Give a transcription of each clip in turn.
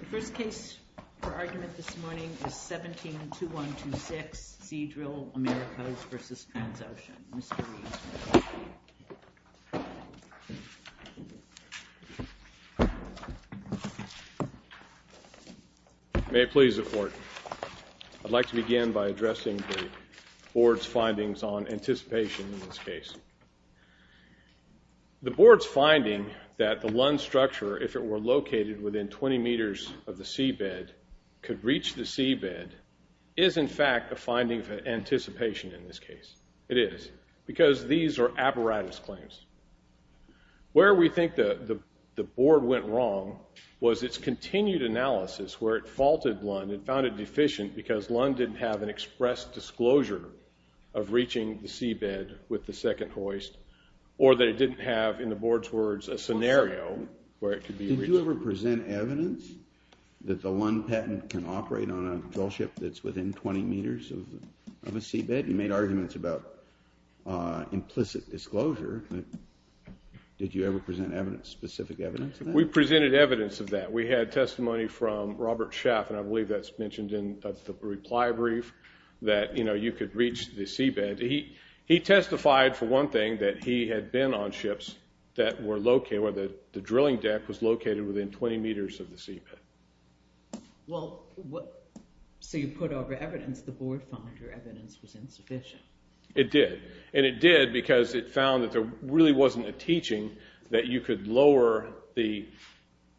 The first case for argument this morning is 17-2126, Seadrill Americas v. Transocean. Mr. Rees. May it please the Court. I'd like to begin by addressing the Board's findings on anticipation in this case. The Board's finding that the Lund structure, if it were located within 20 meters of the seabed, could reach the seabed is in fact a finding for anticipation in this case. It is. Because these are apparatus claims. Where we think the Board went wrong was its continued analysis where it faulted Lund. It found it deficient because Lund didn't have an expressed disclosure of reaching the seabed with the second hoist or that it didn't have, in the Board's words, a scenario where it could be reached. Did you ever present evidence that the Lund patent can operate on a drillship that's within 20 meters of a seabed? You made arguments about implicit disclosure. Did you ever present specific evidence of that? We presented evidence of that. We had testimony from Robert Schaaf, and I believe that's mentioned in the reply brief, that you could reach the seabed. He testified, for one thing, that he had been on ships where the drilling deck was located within 20 meters of the seabed. So you put over evidence. The Board found your evidence was insufficient. It did. And it did because it found that there really wasn't a teaching that you could lower the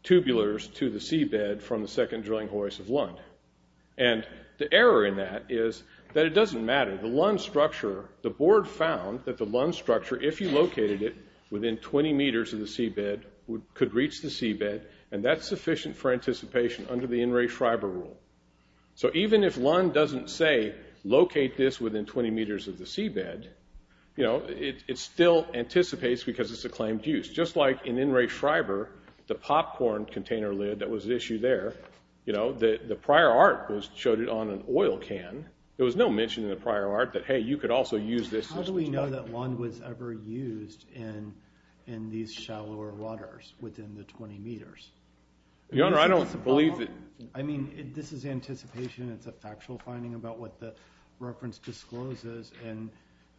tubulars to the seabed from the second drilling hoist of Lund. And the error in that is that it doesn't matter. The Lund structure, the Board found that the Lund structure, if you located it within 20 meters of the seabed, could reach the seabed, and that's sufficient for anticipation under the In re Schreiber rule. So even if Lund doesn't say, locate this within 20 meters of the seabed, it still anticipates because it's a claimed use. Just like in In re Schreiber, the popcorn container lid that was issued there, the prior art showed it on an oil can. There was no mention in the prior art that, hey, you could also use this. How do we know that Lund was ever used in these shallower waters within the 20 meters? Your Honor, I don't believe that. I mean, this is anticipation. It's a factual finding about what the reference discloses. And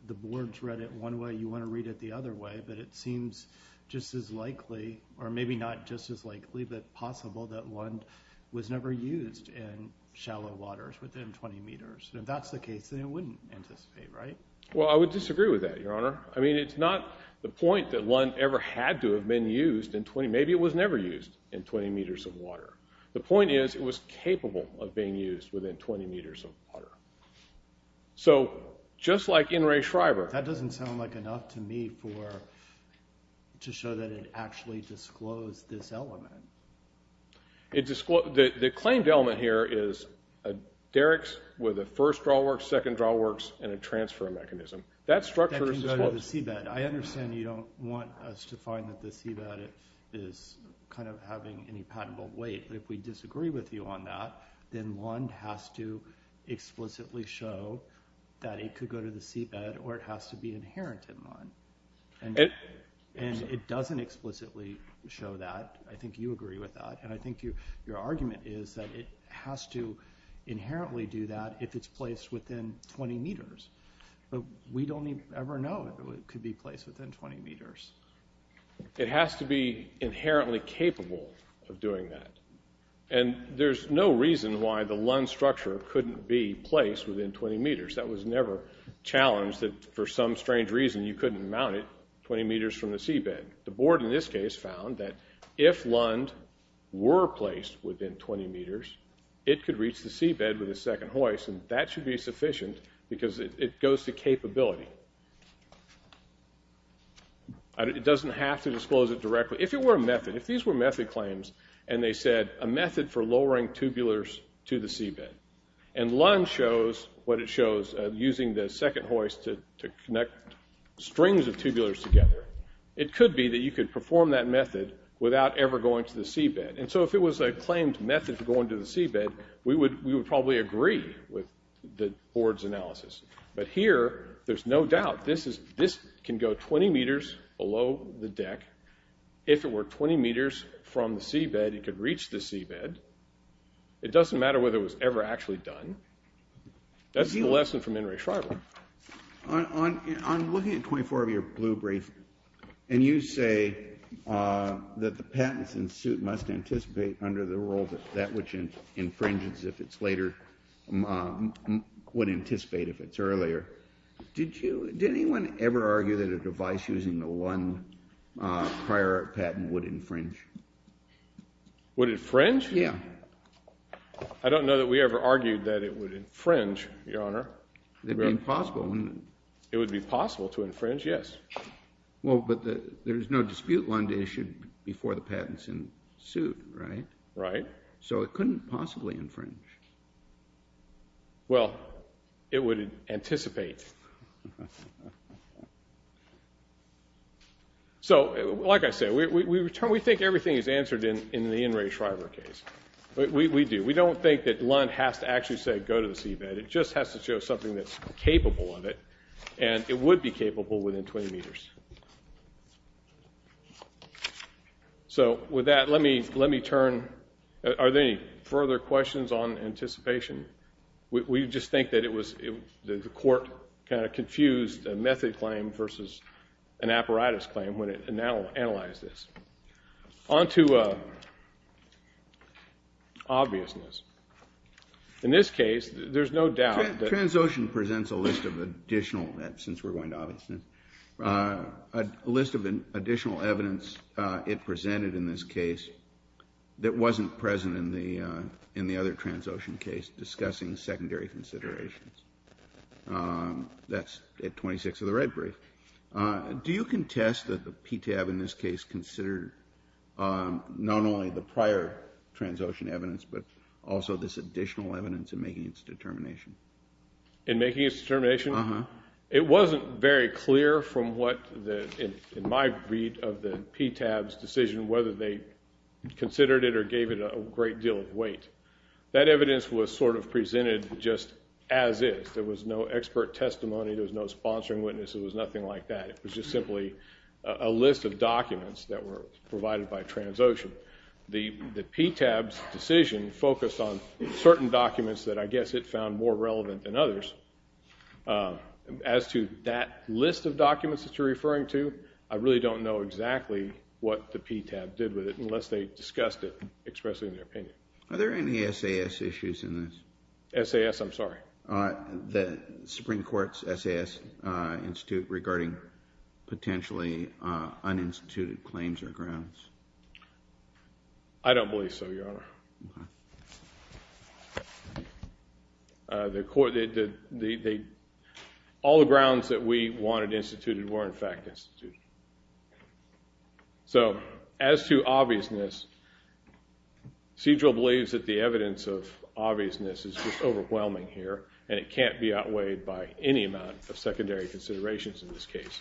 the Board's read it one way. You want to read it the other way. But it seems just as likely, or maybe not just as likely, but possible that Lund was never used in shallow waters within 20 meters. And if that's the case, then it wouldn't anticipate, right? Well, I would disagree with that, Your Honor. I mean, it's not the point that Lund ever had to have been used in 20. Maybe it was never used in 20 meters of water. The point is it was capable of being used within 20 meters of water. So just like in re Schreiber. That doesn't sound like enough to me to show that it actually disclosed this element. The claimed element here is a derricks with a first drawworks, second drawworks, and a transfer mechanism. That structure is disclosed. I understand you don't want us to find that the seabed is kind of having any patentable weight. But if we disagree with you on that, then Lund has to explicitly show that it could go to the seabed or it has to be inherent in Lund. And it doesn't explicitly show that. I think you agree with that. And I think your argument is that it has to inherently do that if it's placed within 20 meters. But we don't ever know if it could be placed within 20 meters. It has to be inherently capable of doing that. And there's no reason why the Lund structure couldn't be placed within 20 meters. That was never challenged that for some strange reason you couldn't mount it 20 meters from the seabed. The board in this case found that if Lund were placed within 20 meters, it could reach the seabed with a second hoist. And that should be sufficient because it goes to capability. It doesn't have to disclose it directly. If it were a method, if these were method claims and they said a method for lowering tubulars to the seabed, and Lund shows what it shows using the second hoist to connect strings of tubulars together, it could be that you could perform that method without ever going to the seabed. And so if it was a claimed method for going to the seabed, we would probably agree with the board's analysis. But here there's no doubt. This can go 20 meters below the deck. If it were 20 meters from the seabed, it could reach the seabed. It doesn't matter whether it was ever actually done. That's the lesson from N. Ray Shriver. I'm looking at 24 of your blue briefs, and you say that the patents in suit must anticipate under the rule that that which infringes if it's later would anticipate if it's earlier. Did anyone ever argue that a device using the one prior patent would infringe? Would it fringe? Yeah. I don't know that we ever argued that it would infringe, Your Honor. It would be impossible. It would be possible to infringe, yes. Well, but there's no dispute Lund issued before the patents in suit, right? Right. So it couldn't possibly infringe. Well, it would anticipate. So like I said, we think everything is answered in the N. Ray Shriver case. We do. We don't think that Lund has to actually say go to the seabed. It just has to show something that's capable of it, and it would be capable within 20 meters. So with that, let me turn. Are there any further questions on anticipation? We just think that the court kind of confused a method claim versus an apparatus claim when it analyzed this. On to obviousness. In this case, there's no doubt that. Transocean presents a list of additional, since we're going to obviousness, a list of additional evidence it presented in this case that wasn't present in the other Transocean case, discussing secondary considerations. That's at 26 of the red brief. Do you contest that the PTAB in this case considered not only the prior Transocean evidence but also this additional evidence in making its determination? In making its determination? It wasn't very clear from what, in my read of the PTAB's decision, whether they considered it or gave it a great deal of weight. That evidence was sort of presented just as is. There was no expert testimony. There was no sponsoring witness. It was nothing like that. It was just simply a list of documents that were provided by Transocean. The PTAB's decision focused on certain documents that I guess it found more relevant than others. As to that list of documents that you're referring to, I really don't know exactly what the PTAB did with it unless they discussed it, expressing their opinion. Are there any SAS issues in this? SAS, I'm sorry? The Supreme Court's SAS institute regarding potentially uninstituted claims or grounds. I don't believe so, Your Honor. The court, all the grounds that we wanted instituted were, in fact, instituted. So as to obviousness, Sedrill believes that the evidence of obviousness is just overwhelming here, and it can't be outweighed by any amount of secondary considerations in this case.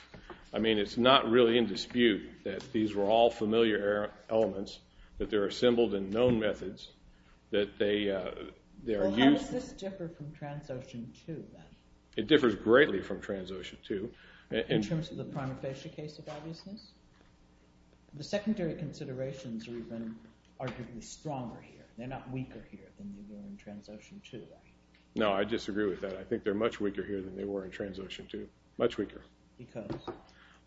I mean, it's not really in dispute that these were all familiar elements, that they're assembled in known methods, that they are used. How does this differ from Transocean 2, then? It differs greatly from Transocean 2. In terms of the prima facie case of obviousness? The secondary considerations are even arguably stronger here. They're not weaker here than they were in Transocean 2. No, I disagree with that. I think they're much weaker here than they were in Transocean 2, much weaker. Because?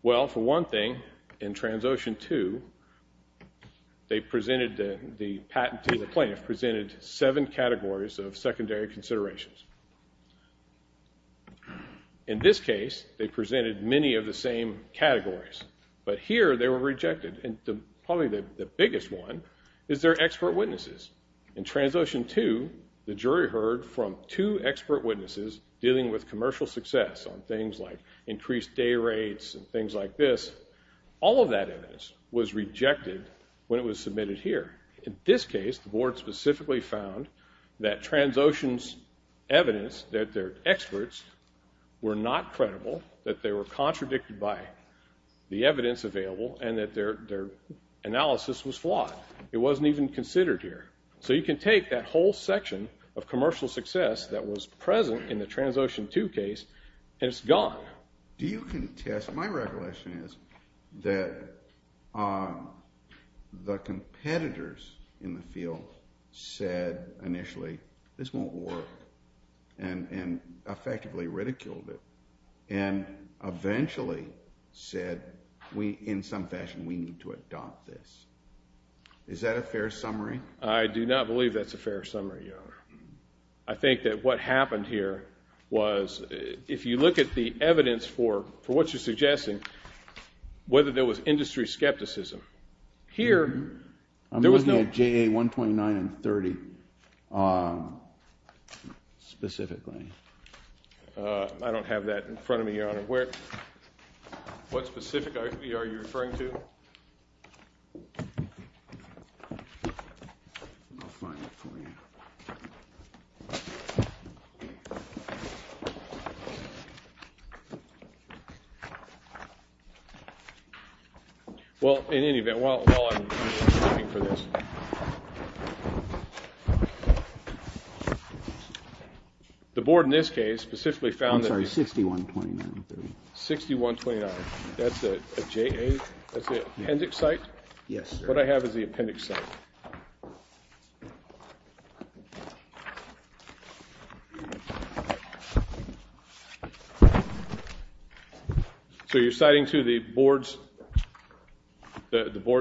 Well, for one thing, in Transocean 2, they presented the patent to the plaintiff, presented seven categories of secondary considerations. In this case, they presented many of the same categories. But here, they were rejected. And probably the biggest one is their expert witnesses. In Transocean 2, the jury heard from two expert witnesses dealing with commercial success on things like increased day rates and things like this. All of that evidence was rejected when it was submitted here. In this case, the board specifically found that Transocean's evidence, that their experts were not credible, that they were contradicted by the evidence available, and that their analysis was flawed. It wasn't even considered here. So you can take that whole section of commercial success that was present in the Transocean 2 case, and it's gone. Do you contest? My recollection is that the competitors in the field said initially, this won't work, and effectively ridiculed it, and eventually said, in some fashion, we need to adopt this. Is that a fair summary? I do not believe that's a fair summary, Your Honor. I think that what happened here was, if you look at the evidence for what you're suggesting, whether there was industry skepticism. Here, there was no. I'm looking at JA 129 and 30 specifically. I don't have that in front of me, Your Honor. What specific are you referring to? I'll find it for you. Well, in any event, while I'm looking for this, the board in this case specifically found that. I'm sorry, 6129. 6129, that's a JA? That's the appendix site? Yes, sir. What I have is the appendix site. So you're citing to the board's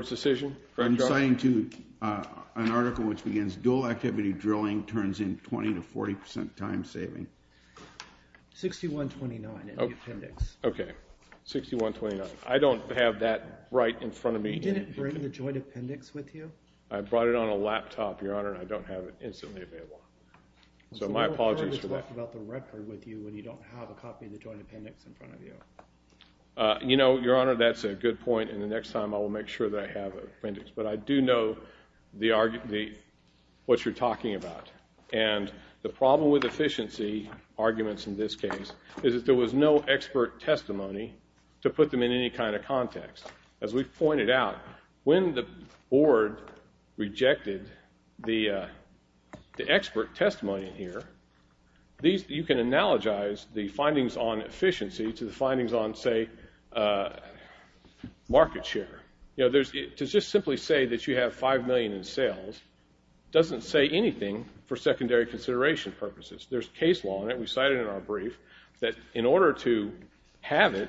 decision? I'm citing to an article which begins, dual activity drilling turns in 20 to 40 percent time saving. 6129 in the appendix. Okay, 6129. I don't have that right in front of me. You didn't bring the joint appendix with you? I brought it on a laptop, Your Honor, and I don't have it instantly available. So my apologies for that. You talked about the record with you when you don't have a copy of the joint appendix in front of you. You know, Your Honor, that's a good point, and the next time I will make sure that I have the appendix. But I do know what you're talking about. And the problem with efficiency arguments in this case is that there was no expert testimony to put them in any kind of context. As we've pointed out, when the board rejected the expert testimony in here, you can analogize the findings on efficiency to the findings on, say, market share. To just simply say that you have 5 million in sales doesn't say anything for secondary consideration purposes. There's case law in it. We cite it in our brief that in order to have it,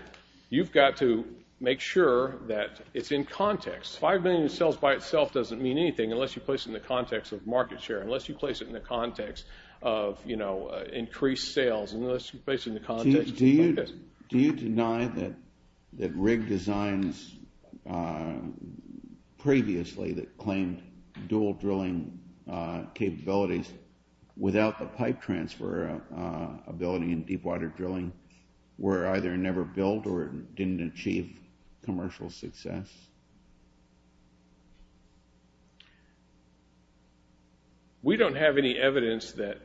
you've got to make sure that it's in context. 5 million in sales by itself doesn't mean anything unless you place it in the context of market share, unless you place it in the context of, you know, increased sales, unless you place it in the context of markets. Do you deny that Rigg Designs previously that claimed dual drilling capabilities without the pipe transfer ability in deepwater drilling were either never built or didn't achieve commercial success? We don't have any evidence that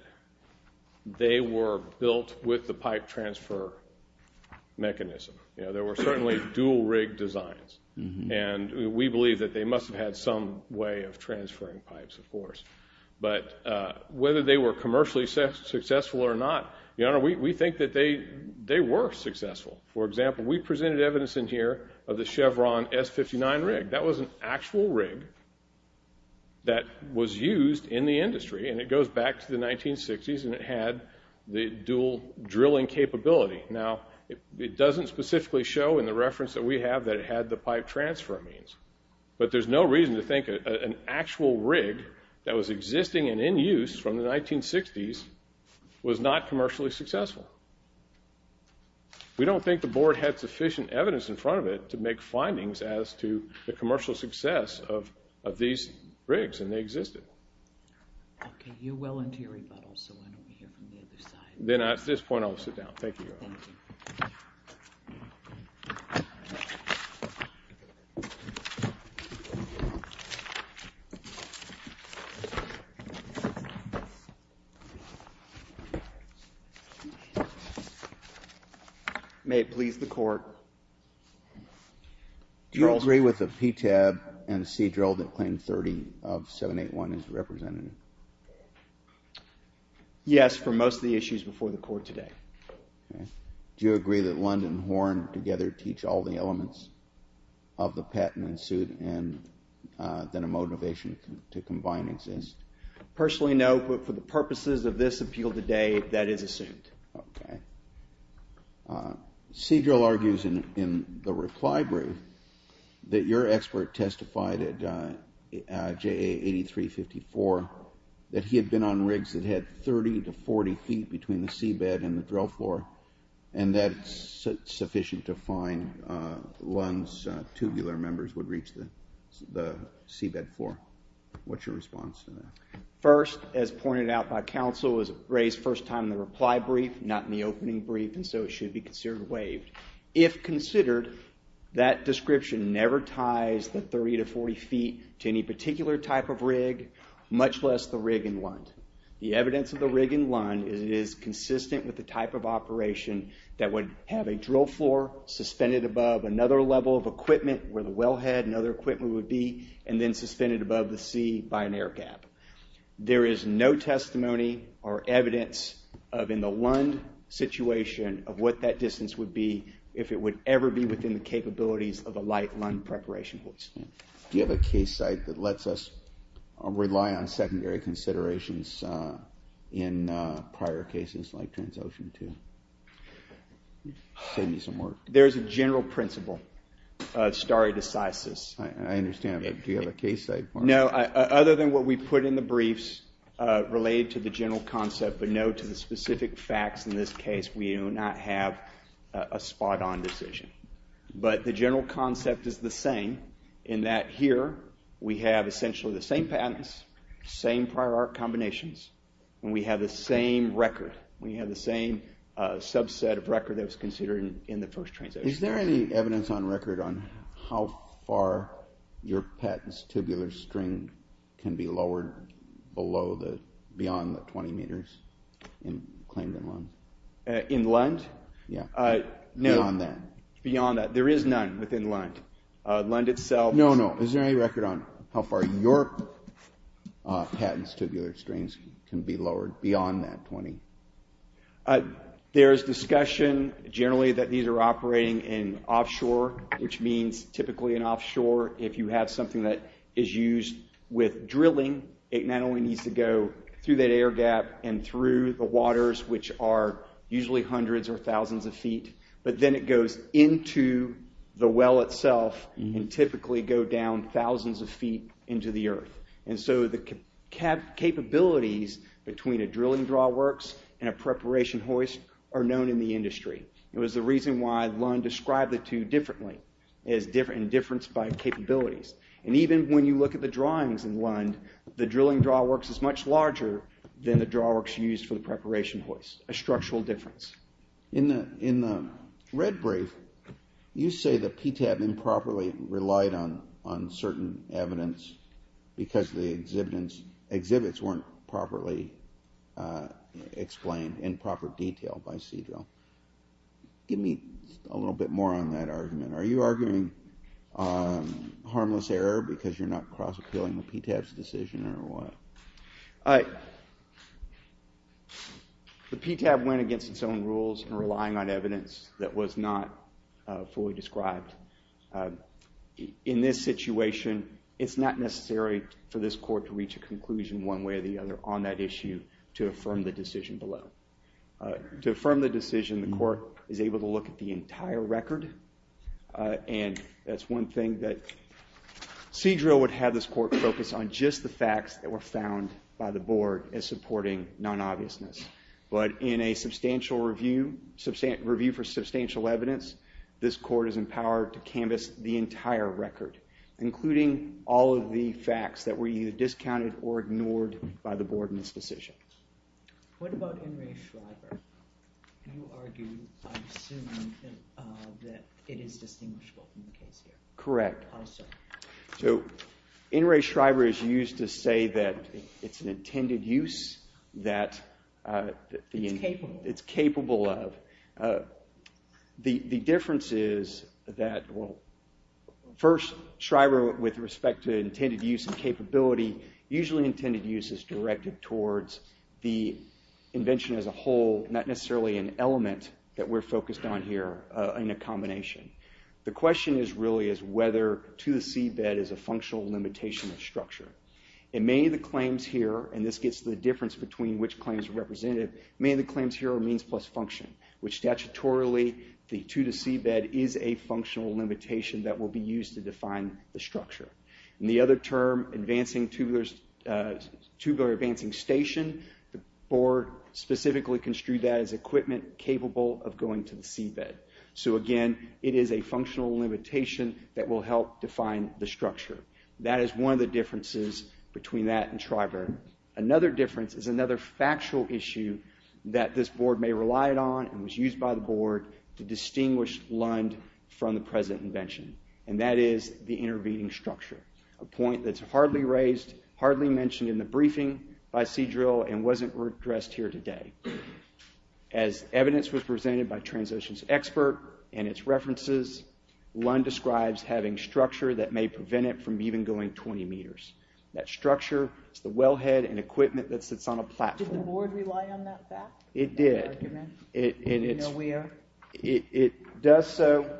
they were built with the pipe transfer mechanism. You know, there were certainly dual Rigg Designs. And we believe that they must have had some way of transferring pipes, of course. But whether they were commercially successful or not, we think that they were successful. For example, we presented evidence in here of the Chevron S-59 Rigg. That was an actual Rigg that was used in the industry, and it goes back to the 1960s, and it had the dual drilling capability. Now, it doesn't specifically show in the reference that we have that it had the pipe transfer means. But there's no reason to think an actual Rigg that was existing and in use from the 1960s was not commercially successful. We don't think the board had sufficient evidence in front of it to make findings as to the commercial success of these Riggs, and they existed. Okay, you're well into your rebuttal, so I don't want to hear from the other side. Then at this point, I'll sit down. Thank you. Thank you. May it please the court. Do you agree with the PTAB and the C-drill that Claim 30 of 781 is represented? Yes, for most of the issues before the court today. Do you agree that Lund and Horn together teach all the elements of the patent and suit, and that a motivation to combine exists? Personally, no, but for the purposes of this appeal today, that is assumed. Okay. C-drill argues in the reply brief that your expert testified at JA 8354 that he had been on Riggs that had 30 to 40 feet between the seabed and the drill floor, and that sufficient to find Lund's tubular members would reach the seabed floor. What's your response to that? First, as pointed out by counsel, it was raised first time in the reply brief, not in the opening brief, and so it should be considered waived. If considered, that description never ties the 30 to 40 feet to any particular type of rig, much less the rig in Lund. The evidence of the rig in Lund is it is consistent with the type of operation that would have a drill floor suspended above another level of equipment, where the wellhead and other equipment would be, and then suspended above the sea by an air gap. There is no testimony or evidence in the Lund situation of what that distance would be if it would ever be within the capabilities of a light Lund preparation hoist. Do you have a case site that lets us rely on secondary considerations in prior cases like Transocean to save you some work? There is a general principle, stare decisis. I understand, but do you have a case site? No, other than what we put in the briefs related to the general concept, but no to the specific facts in this case. We do not have a spot-on decision, but the general concept is the same in that here we have essentially the same patents, same prior art combinations, and we have the same record. We have the same subset of record that was considered in the first Transocean. Is there any evidence on record on how far your patent's tubular string can be lowered beyond the 20 meters claimed in Lund? In Lund? Beyond that. There is none within Lund. No, no. Is there any record on how far your patent's tubular strings can be lowered beyond that 20? There is discussion generally that these are operating in offshore, which means typically in offshore if you have something that is used with drilling, it not only needs to go through that air gap and through the waters, which are usually hundreds or thousands of feet, but then it goes into the well itself and typically go down thousands of feet into the earth. And so the capabilities between a drilling draw works and a preparation hoist are known in the industry. It was the reason why Lund described the two differently in difference by capabilities. And even when you look at the drawings in Lund, the drilling draw works is much larger than the draw works used for the preparation hoist, a structural difference. In the red brief, you say that PTAB improperly relied on certain evidence because the exhibits weren't properly explained in proper detail by Sea-Drill. Give me a little bit more on that argument. Are you arguing harmless error because you're not cross appealing the PTAB's decision or what? The PTAB went against its own rules and relying on evidence that was not fully described. In this situation, it's not necessary for this court to reach a conclusion one way or the other on that issue to affirm the decision below. To affirm the decision, the court is able to look at the entire record. And that's one thing that Sea-Drill would have this court focus on just the facts that were found by the board as supporting non-obviousness. But in a substantial review for substantial evidence, this court is empowered to canvass the entire record, including all of the facts that were either discounted or ignored by the board in its decision. What about NRA Schreiber? Do you argue, I'm assuming, that it is distinguishable from the case here? Correct. Also. So NRA Schreiber is used to say that it's an intended use that... It's capable. It's capable of. The difference is that, well, first, Schreiber, with respect to intended use and capability, usually intended use is directed towards the invention as a whole, not necessarily an element that we're focused on here, in a combination. The question really is whether to-the-sea bed is a functional limitation of structure. In many of the claims here, and this gets to the difference between which claims are representative, many of the claims here are means plus function, which statutorily the to-the-sea bed is a functional limitation that will be used to define the structure. In the other term, tubular advancing station, the board specifically construed that as equipment capable of going to the seabed. So, again, it is a functional limitation that will help define the structure. That is one of the differences between that and Schreiber. Another difference is another factual issue that this board may rely on and was used by the board to distinguish Lund from the present invention, and that is the intervening structure, a point that's hardly raised, hardly mentioned in the briefing by Sea Drill and wasn't addressed here today. As evidence was presented by Transocean's expert and its references, Lund describes having structure that may prevent it from even going 20 meters. That structure is the wellhead and equipment that sits on a platform. Did the board rely on that fact? It did. Do you know where? It does so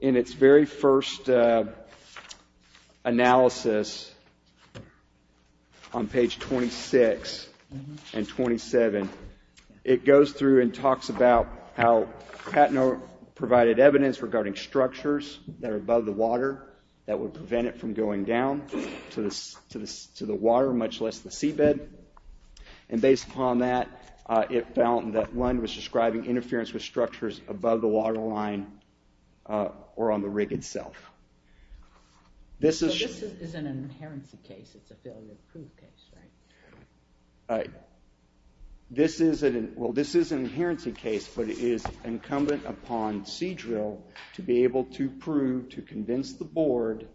in its very first analysis on page 26 and 27. It goes through and talks about how Patnoe provided evidence regarding structures that are above the water that would prevent it from going down to the water, much less the seabed. And based upon that, it found that Lund was describing interference with structures above the waterline or on the rig itself. So this isn't an inherency case. It's a failure to prove case, right? This is an inherency case, but it is incumbent upon Sea Drill to be able to prove, to convince the board,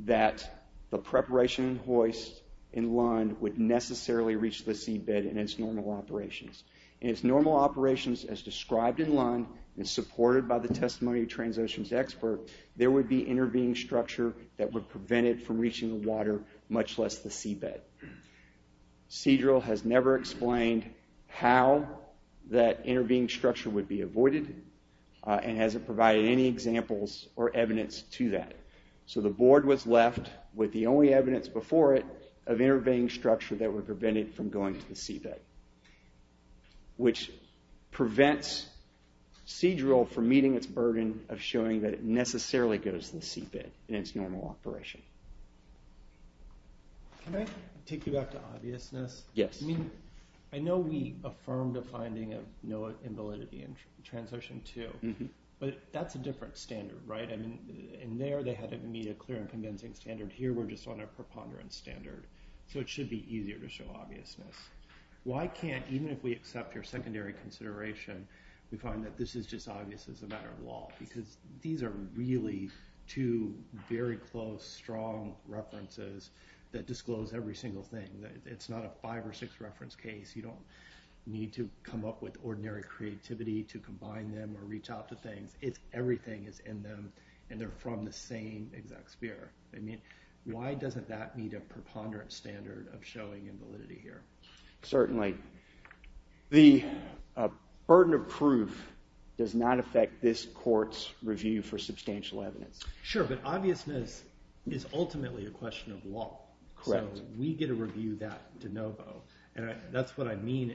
that the preparation hoist in Lund would necessarily reach the seabed in its normal operations. In its normal operations, as described in Lund and supported by the testimony of Transocean's expert, there would be intervening structure that would prevent it from reaching the water, much less the seabed. Sea Drill has never explained how that intervening structure would be avoided and hasn't provided any examples or evidence to that. So the board was left with the only evidence before it of intervening structure that would prevent it from going to the seabed, which prevents Sea Drill from meeting its burden of showing that it necessarily goes to the seabed in its normal operation. Can I take you back to obviousness? Yes. I mean, I know we affirmed a finding of no invalidity in Transocean 2, but that's a different standard, right? I mean, in there, they had to meet a clear and convincing standard. Here, we're just on a preponderance standard, so it should be easier to show obviousness. Why can't, even if we accept your secondary consideration, we find that this is just obvious as a matter of law? Because these are really two very close, strong references that disclose every single thing. It's not a five or six reference case. You don't need to come up with ordinary creativity to combine them or reach out to things. Everything is in them, and they're from the same exact sphere. I mean, why doesn't that meet a preponderance standard of showing invalidity here? Certainly. The burden of proof does not affect this court's review for substantial evidence. Sure, but obviousness is ultimately a question of law. Correct. So we get to review that de novo. And that's what I mean.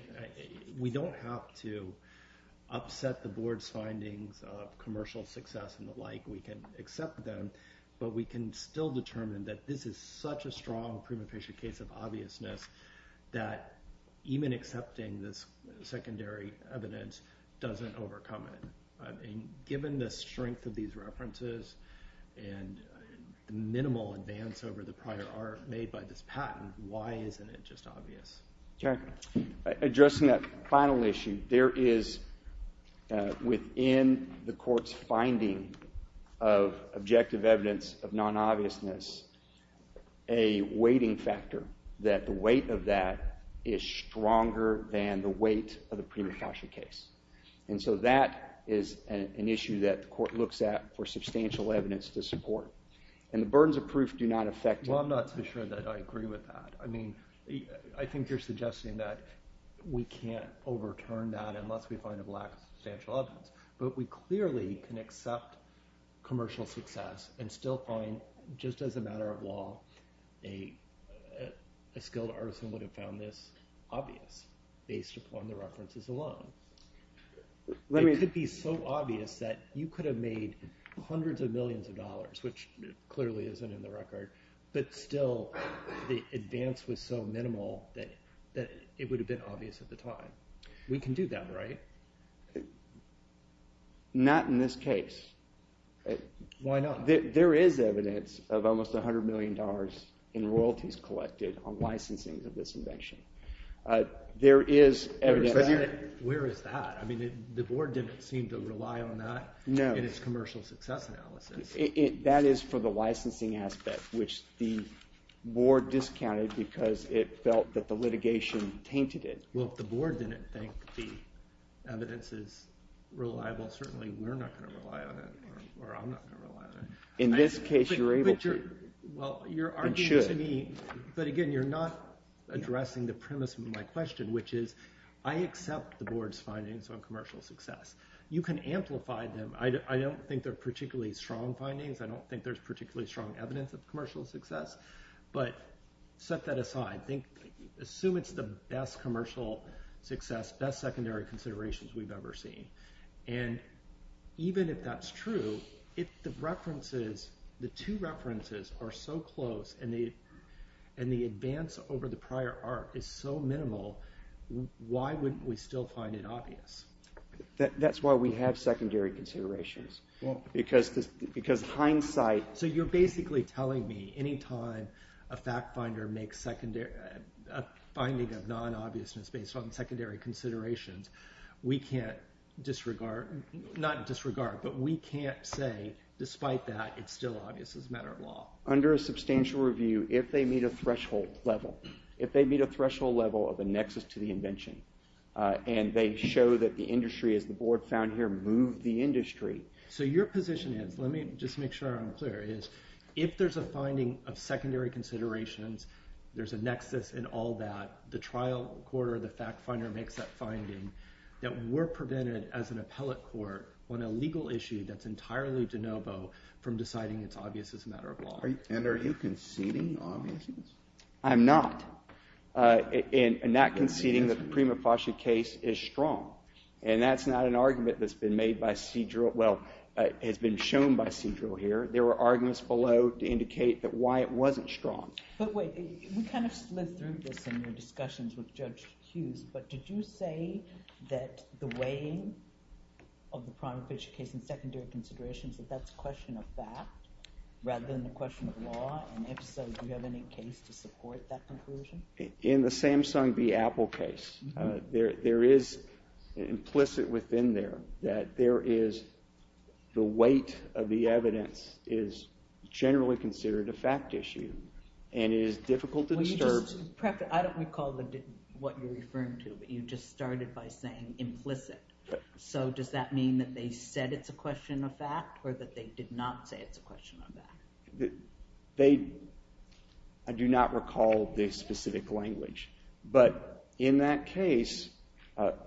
We don't have to upset the board's findings of commercial success and the like. We can accept them, but we can still determine that this is such a strong prima facie case of obviousness that even accepting this secondary evidence doesn't overcome it. I mean, given the strength of these references and the minimal advance over the prior art made by this patent, why isn't it just obvious? Jerry. Addressing that final issue, there is within the court's finding of objective evidence of non-obviousness a weighting factor that the weight of that is stronger than the weight of the prima facie case. And so that is an issue that the court looks at for substantial evidence to support. And the burdens of proof do not affect that. Well, I'm not so sure that I agree with that. I mean, I think you're suggesting that we can't overturn that unless we find a lack of substantial evidence. But we clearly can accept commercial success and still find, just as a matter of law, a skilled artisan would have found this obvious based upon the references alone. It could be so obvious that you could have made hundreds of millions of dollars, which clearly isn't in the record, but still the advance was so minimal that it would have been obvious at the time. We can do that, right? Not in this case. Why not? There is evidence of almost $100 million in royalties collected on licensing of this invention. There is evidence... Where is that? I mean, the board didn't seem to rely on that in its commercial success analysis. That is for the licensing aspect, which the board discounted because it felt that the litigation tainted it. Well, if the board didn't think the evidence is reliable, certainly we're not going to rely on it, or I'm not going to rely on it. In this case, you're able to. Well, you're arguing to me, but again, you're not addressing the premise of my question, which is I accept the board's findings on commercial success. You can amplify them. I don't think they're particularly strong findings. I don't think there's particularly strong evidence of commercial success. But set that aside. Assume it's the best commercial success, the best secondary considerations we've ever seen. And even if that's true, if the references, the two references, are so close and the advance over the prior art is so minimal, why wouldn't we still find it obvious? That's why we have secondary considerations. Because hindsight... So you're basically telling me any time a fact-finder makes a finding of non-obviousness based on secondary considerations, we can't disregard... Not disregard, but we can't say, despite that, it's still obvious as a matter of law. Under a substantial review, if they meet a threshold level, if they meet a threshold level of a nexus to the invention and they show that the industry, as the board found here, moved the industry... So your position is, let me just make sure I'm clear, is if there's a finding of secondary considerations, there's a nexus in all that, the trial court or the fact-finder makes that finding, that we're prevented as an appellate court on a legal issue that's entirely de novo from deciding it's obvious as a matter of law. And are you conceding obviousness? I'm not. And not conceding that the Prima Fasci case is strong. And that's not an argument that's been made by Cedril... Well, has been shown by Cedril here. There were arguments below to indicate why it wasn't strong. But wait, we kind of slid through this in your discussions with Judge Hughes, but did you say that the weighing of the Prima Fasci case in secondary considerations, that that's a question of fact rather than a question of law? And if so, do you have any case to support that conclusion? In the Samsung v. Apple case, there is implicit within there that there is the weight of the evidence is generally considered a fact issue. And it is difficult to disturb... I don't recall what you're referring to, but you just started by saying implicit. So does that mean that they said it's a question of fact or that they did not say it's a question of fact? I do not recall the specific language. But in that case,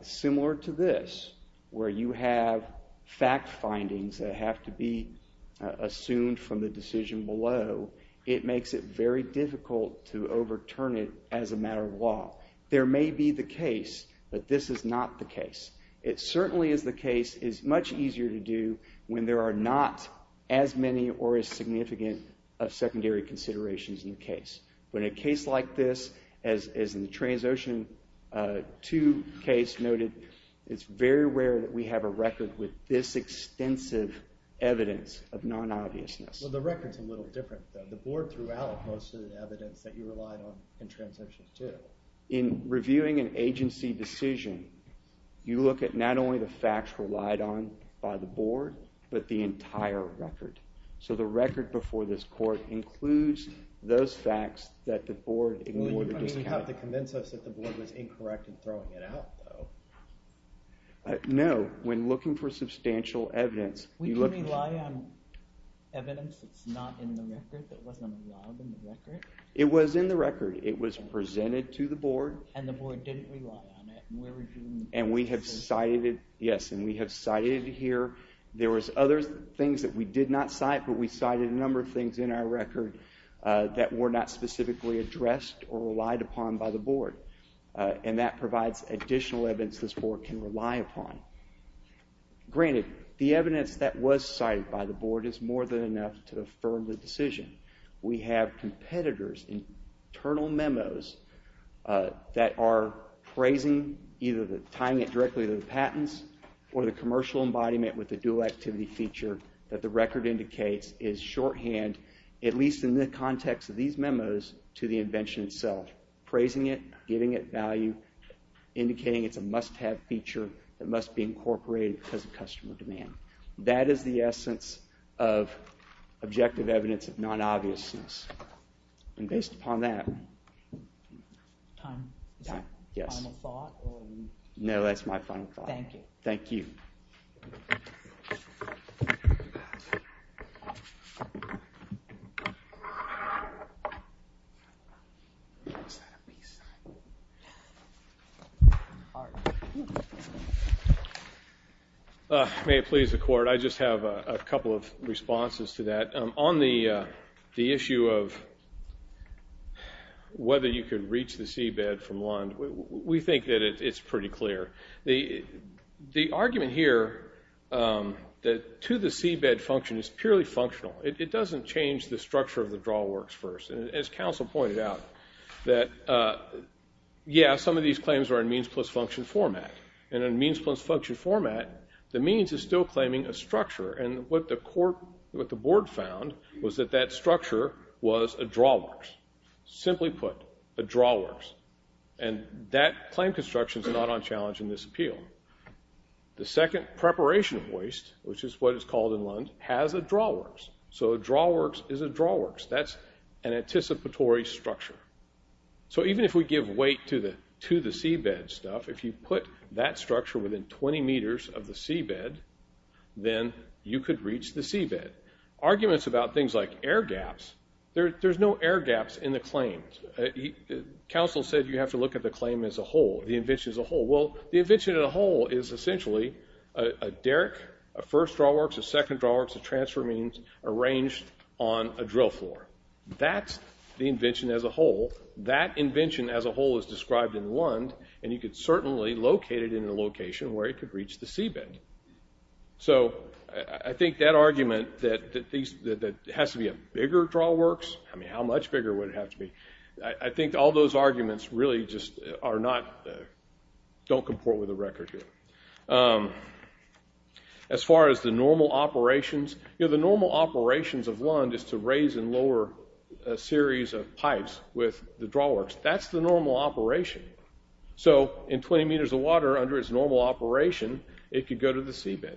similar to this, where you have fact findings that have to be assumed from the decision below, it makes it very difficult to overturn it as a matter of law. There may be the case, but this is not the case. It certainly is the case. It's much easier to do when there are not as many or as significant of secondary considerations in the case. But in a case like this, as in the Transocean 2 case noted, it's very rare that we have a record with this extensive evidence of non-obviousness. Well, the record's a little different, though. The board threw out most of the evidence that you relied on in Transocean 2. In reviewing an agency decision, you look at not only the facts relied on by the board, but the entire record. So the record before this court includes those facts that the board ignored or discounted. You don't even have to convince us that the board was incorrect in throwing it out, though. No. When looking for substantial evidence... We didn't rely on evidence that's not in the record, that wasn't allowed in the record. It was in the record. It was presented to the board. And the board didn't rely on it. And we have cited it, yes, and we have cited it here. There was other things that we did not cite, but we cited a number of things in our record that were not specifically addressed or relied upon by the board. And that provides additional evidence this board can rely upon. Granted, the evidence that was cited by the board is more than enough to affirm the decision. We have competitors' internal memos that are praising either the... tying it directly to the patents or the commercial embodiment with the dual-activity feature that the record indicates is shorthand, at least in the context of these memos, to the invention itself. Praising it, giving it value, indicating it's a must-have feature that must be incorporated because of customer demand. That is the essence of objective evidence of non-obviousness. And based upon that... Time? Yes. Final thought? No, that's my final thought. Thank you. Thank you. Thank you. May it please the court, I just have a couple of responses to that. On the issue of whether you could reach the seabed from Lund, we think that it's pretty clear. The argument here to the seabed function is purely functional. It doesn't change the structure of the drawworks first. And as counsel pointed out, that, yeah, some of these claims are in means-plus-function format. And in means-plus-function format, the means is still claiming a structure. And what the board found was that that structure was a drawworks. Simply put, a drawworks. And that claim construction is not on challenge in this appeal. The second preparation waste, which is what it's called in Lund, has a drawworks. So a drawworks is a drawworks. That's an anticipatory structure. So even if we give weight to the seabed stuff, if you put that structure within 20 meters of the seabed, then you could reach the seabed. Arguments about things like air gaps, there's no air gaps in the claims. Counsel said you have to look at the claim as a whole, the invention as a whole. Well, the invention as a whole is essentially a derrick, a first drawworks, a second drawworks, a transfer means, arranged on a drill floor. That's the invention as a whole. That invention as a whole is described in Lund, and you could certainly locate it in a location where it could reach the seabed. So I think that argument that it has to be a bigger drawworks, I mean, how much bigger would it have to be? I think all those arguments really just are not, don't comport with the record here. As far as the normal operations, the normal operations of Lund is to raise and lower a series of pipes with the drawworks. That's the normal operation. So in 20 meters of water, under its normal operation, it could go to the seabed.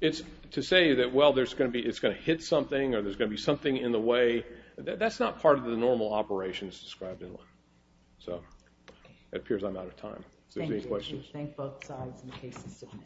It's to say that, well, it's going to hit something or there's going to be something in the way. That's not part of the normal operations described in Lund. So it appears I'm out of time. If there's any questions. Thank you. Thank both sides in case it's submitted.